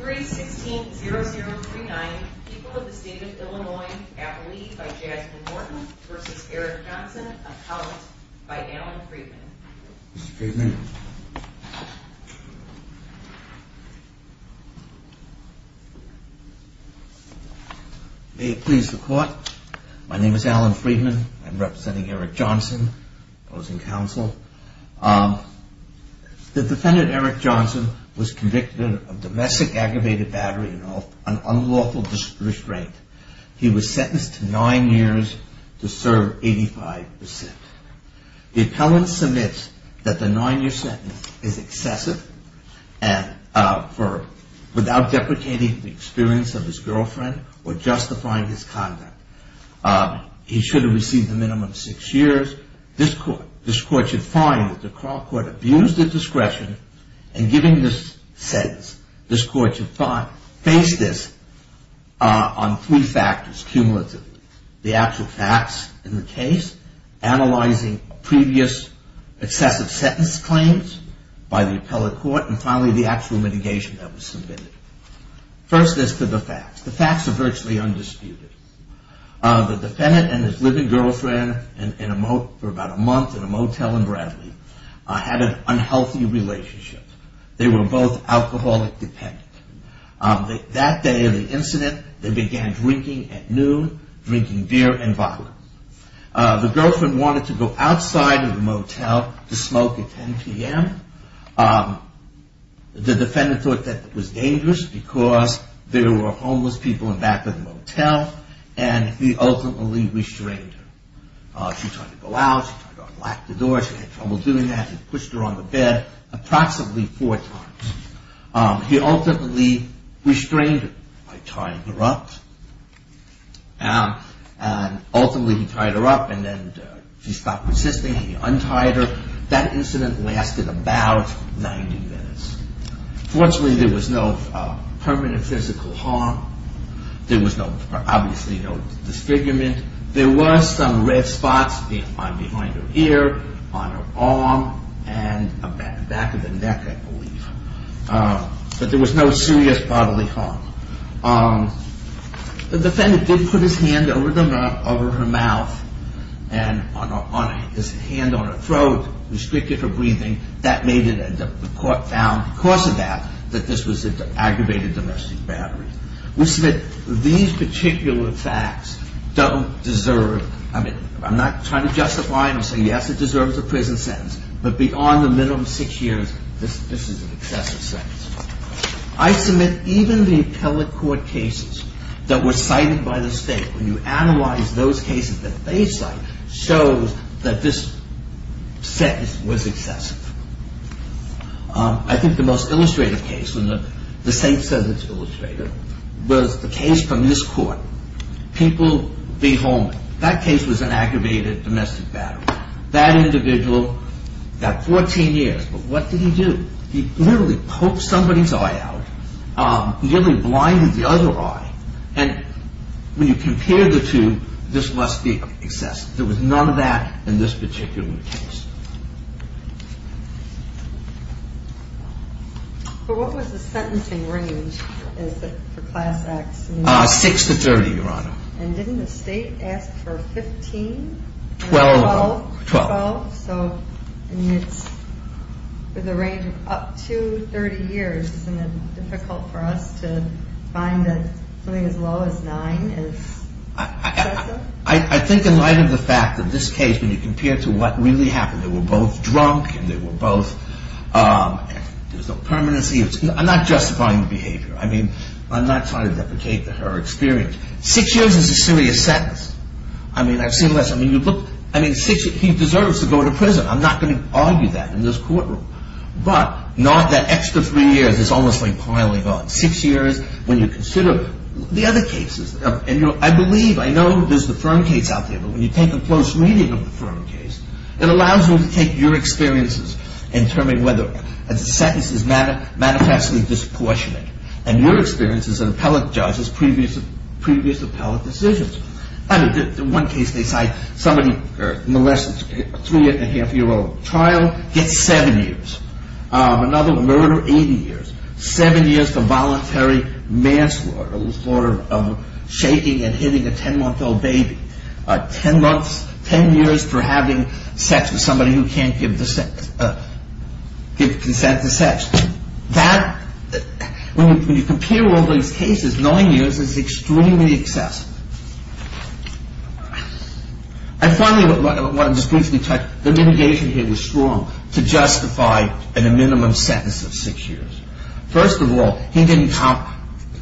3-16-0039 People of the State of Illinois, Appalee by Jasmine Morton v. Eric Johnson, Account by Alan Freedman Mr. Freedman May it please the court, my name is Alan Freedman, I'm representing Eric Johnson, opposing counsel The defendant Eric Johnson was convicted of domestic aggravated battery and unlawful restraint. He was sentenced to nine years to serve 85 percent. The appellant submits that the nine year sentence is excessive and without deprecating the experience of his girlfriend or justifying his conduct. He should have received a minimum of six years. This court should find that the Craw Court abused its discretion in giving this sentence. This court should face this on three factors cumulatively. The actual facts in the case, analyzing previous excessive sentence claims by the appellate court, and finally the actual litigation that was submitted. First is to the facts. The facts are virtually undisputed. The defendant and his living girlfriend for about a month in a motel in Bradley had an unhealthy relationship. They were both alcoholic dependent. That day of the incident they began drinking at noon, drinking beer and violence. The girlfriend wanted to go outside of the motel to smoke at 10 p.m. The defendant thought that was dangerous because there were homeless people in back of the motel and he ultimately restrained her. She tried to go out. She tried to unlock the door. She had trouble doing that. He pushed her on the bed approximately four times. He ultimately restrained her by tying her up and ultimately he tied her up and then she stopped resisting. He untied her. That incident lasted about 90 minutes. Fortunately there was no permanent physical harm. There was obviously no disfigurement. There were some red spots behind her ear, on her arm and back of the neck I believe. But there was no serious bodily harm. The defendant did put his hand over her mouth and his hand on her throat, restricted her breathing. That made it and the court found because of that that this was an aggravated domestic battery. We submit these particular facts don't deserve, I mean I'm not trying to justify them and say yes it deserves a prison sentence, but beyond the minimum of six years this is an excessive sentence. I submit even the appellate court cases that were cited by the state, when you analyze those cases that they cite, shows that this sentence was excessive. I think the most illustrative case, and the state says it's illustrative, was the case from this court, Pinkle v. Holman. That case was an aggravated domestic battery. That individual got 14 years, but what did he do? He literally poked somebody's eye out, nearly blinded the other eye and when you compare the two, this must be excessive. There was none of that in this particular case. But what was the sentencing range for class acts? Six to 30, Your Honor. And didn't the state ask for 15? 12. 12, so I mean it's with a range of up to 30 years, isn't it difficult for us to find something as low as nine as excessive? I think in light of the fact that this case, when you compare it to what really happened, they were both drunk and they were both, there was no permanency. I'm not justifying the behavior. I mean, I'm not trying to deprecate her experience. Six years is a serious sentence. I mean, I've seen less. I mean, he deserves to go to prison. I'm not going to argue that in this courtroom. But not that extra three years is almost like piling on. Six years when you consider the other cases. And I believe, I know there's the firm case out there, but when you take a close reading of the firm case, it allows you to take your experiences and determine whether a sentence is manifestly disproportionate. And your experience as an appellate judge is previous appellate decisions. In one case they cite somebody, a three and a half year old child gets seven years. Another murder, 80 years. Seven years for voluntary manslaughter, for shaking and hitting a ten month old baby. Ten years for having sex with somebody who can't give consent to sex. When you compare all these cases, nine years is extremely excessive. And finally, I want to just briefly touch, the litigation here was strong to justify a minimum sentence of six years. First of all, he didn't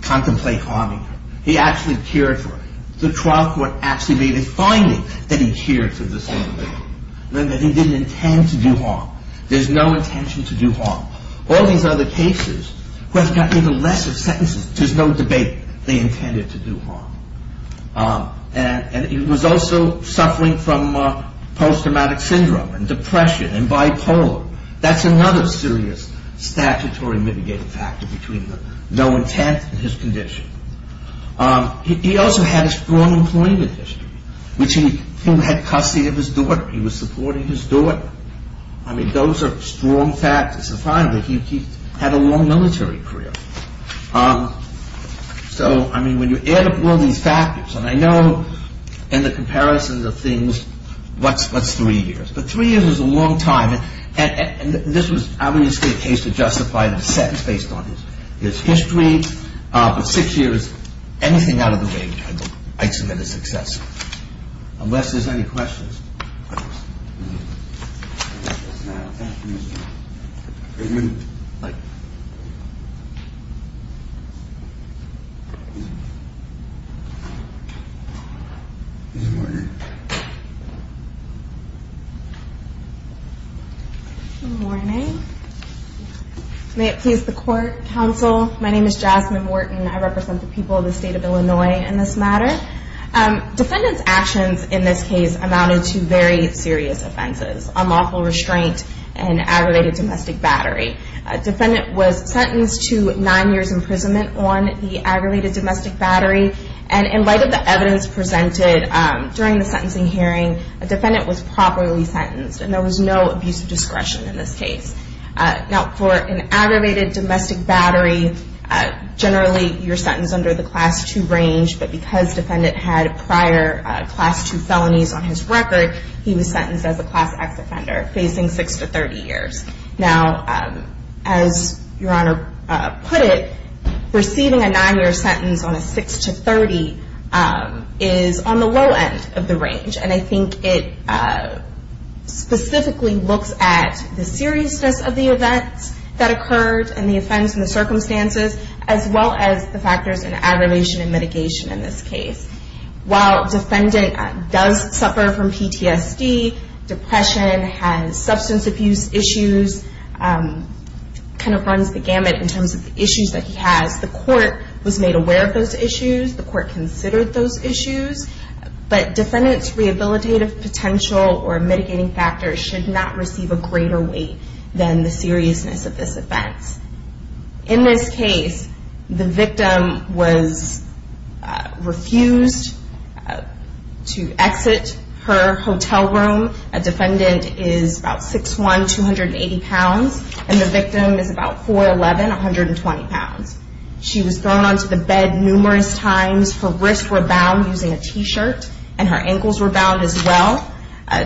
contemplate harming her. He actually cared for her. The trial court actually made a finding that he cared for this young lady. Remember, he didn't intend to do harm. There's no intention to do harm. All these other cases, who have gotten even lesser sentences, there's no debate. They intended to do harm. And he was also suffering from post-traumatic syndrome and depression and bipolar. That's another serious statutory mitigating factor between the no intent and his condition. He also had a strong employment history, which he had custody of his daughter. He was supporting his daughter. I mean, those are strong factors. And finally, he had a long military career. So, I mean, when you add up all these factors, and I know in the comparison of things, what's three years? But three years is a long time, and this was obviously a case to justify the sentence based on his history. But six years, anything out of the way, I'd say that it's excessive. Unless there's any questions. One minute. Good morning. May it please the court, counsel. My name is Jasmine Wharton. I represent the people of the state of Illinois in this matter. Defendant's actions in this case amounted to very serious offenses. Unlawful restraint and aggravated domestic battery. Defendant was sentenced to nine years' imprisonment on the aggravated domestic battery. And in light of the evidence presented during the sentencing hearing, a defendant was properly sentenced, and there was no abuse of discretion in this case. Now, for an aggravated domestic battery, generally you're sentenced under the Class II range. But because defendant had prior Class II felonies on his record, he was sentenced as a Class X offender facing six to 30 years. Now, as Your Honor put it, receiving a nine-year sentence on a six to 30 is on the low end of the range. And I think it specifically looks at the seriousness of the events that occurred and the offense and the circumstances, as well as the factors in aggravation and mitigation in this case. While defendant does suffer from PTSD, depression, has substance abuse issues, kind of runs the gamut in terms of issues that he has. The court was made aware of those issues. The court considered those issues. But defendant's rehabilitative potential or mitigating factors should not receive a greater weight than the seriousness of this offense. In this case, the victim was refused to exit her hotel room. A defendant is about 6'1", 280 pounds, and the victim is about 4'11", 120 pounds. She was thrown onto the bed numerous times. Her wrists were bound using a T-shirt, and her ankles were bound as well.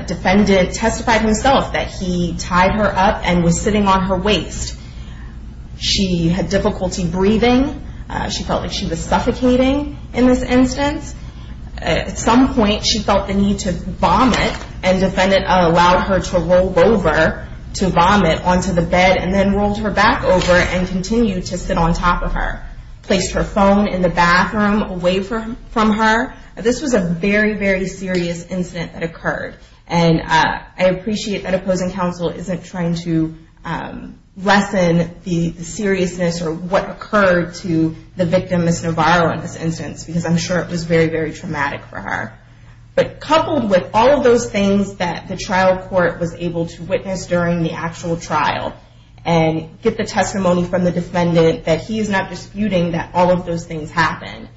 Defendant testified himself that he tied her up and was sitting on her waist. She had difficulty breathing. She felt like she was suffocating in this instance. At some point, she felt the need to vomit, and defendant allowed her to roll over to vomit onto the bed and then rolled her back over and continued to sit on top of her, placed her phone in the bathroom away from her. This was a very, very serious incident that occurred. And I appreciate that opposing counsel isn't trying to lessen the seriousness or what occurred to the victim, Ms. Navarro, in this instance, because I'm sure it was very, very traumatic for her. But coupled with all of those things that the trial court was able to witness during the actual trial and get the testimony from the defendant that he is not disputing that all of those things happened,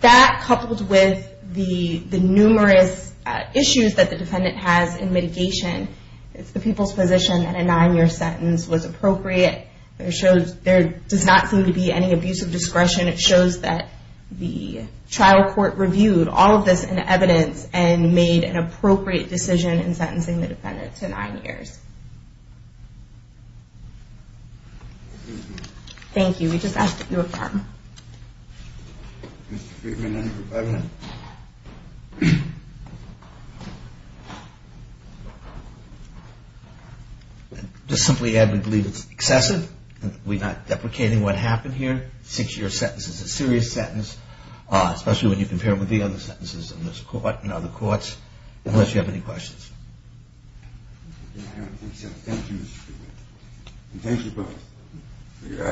that coupled with the numerous issues that the defendant has in mitigation, it's the people's position that a nine-year sentence was appropriate. There does not seem to be any abuse of discretion. It shows that the trial court reviewed all of this in evidence and made an appropriate decision in sentencing the defendant to nine years. Thank you. We just asked that you affirm. Just simply add we believe it's excessive. We're not deprecating what happened here. A six-year sentence is a serious sentence, especially when you compare it with the other sentences in this court and other courts, unless you have any questions. Thank you, Mr. Kruger. And thank you both for your attendance today.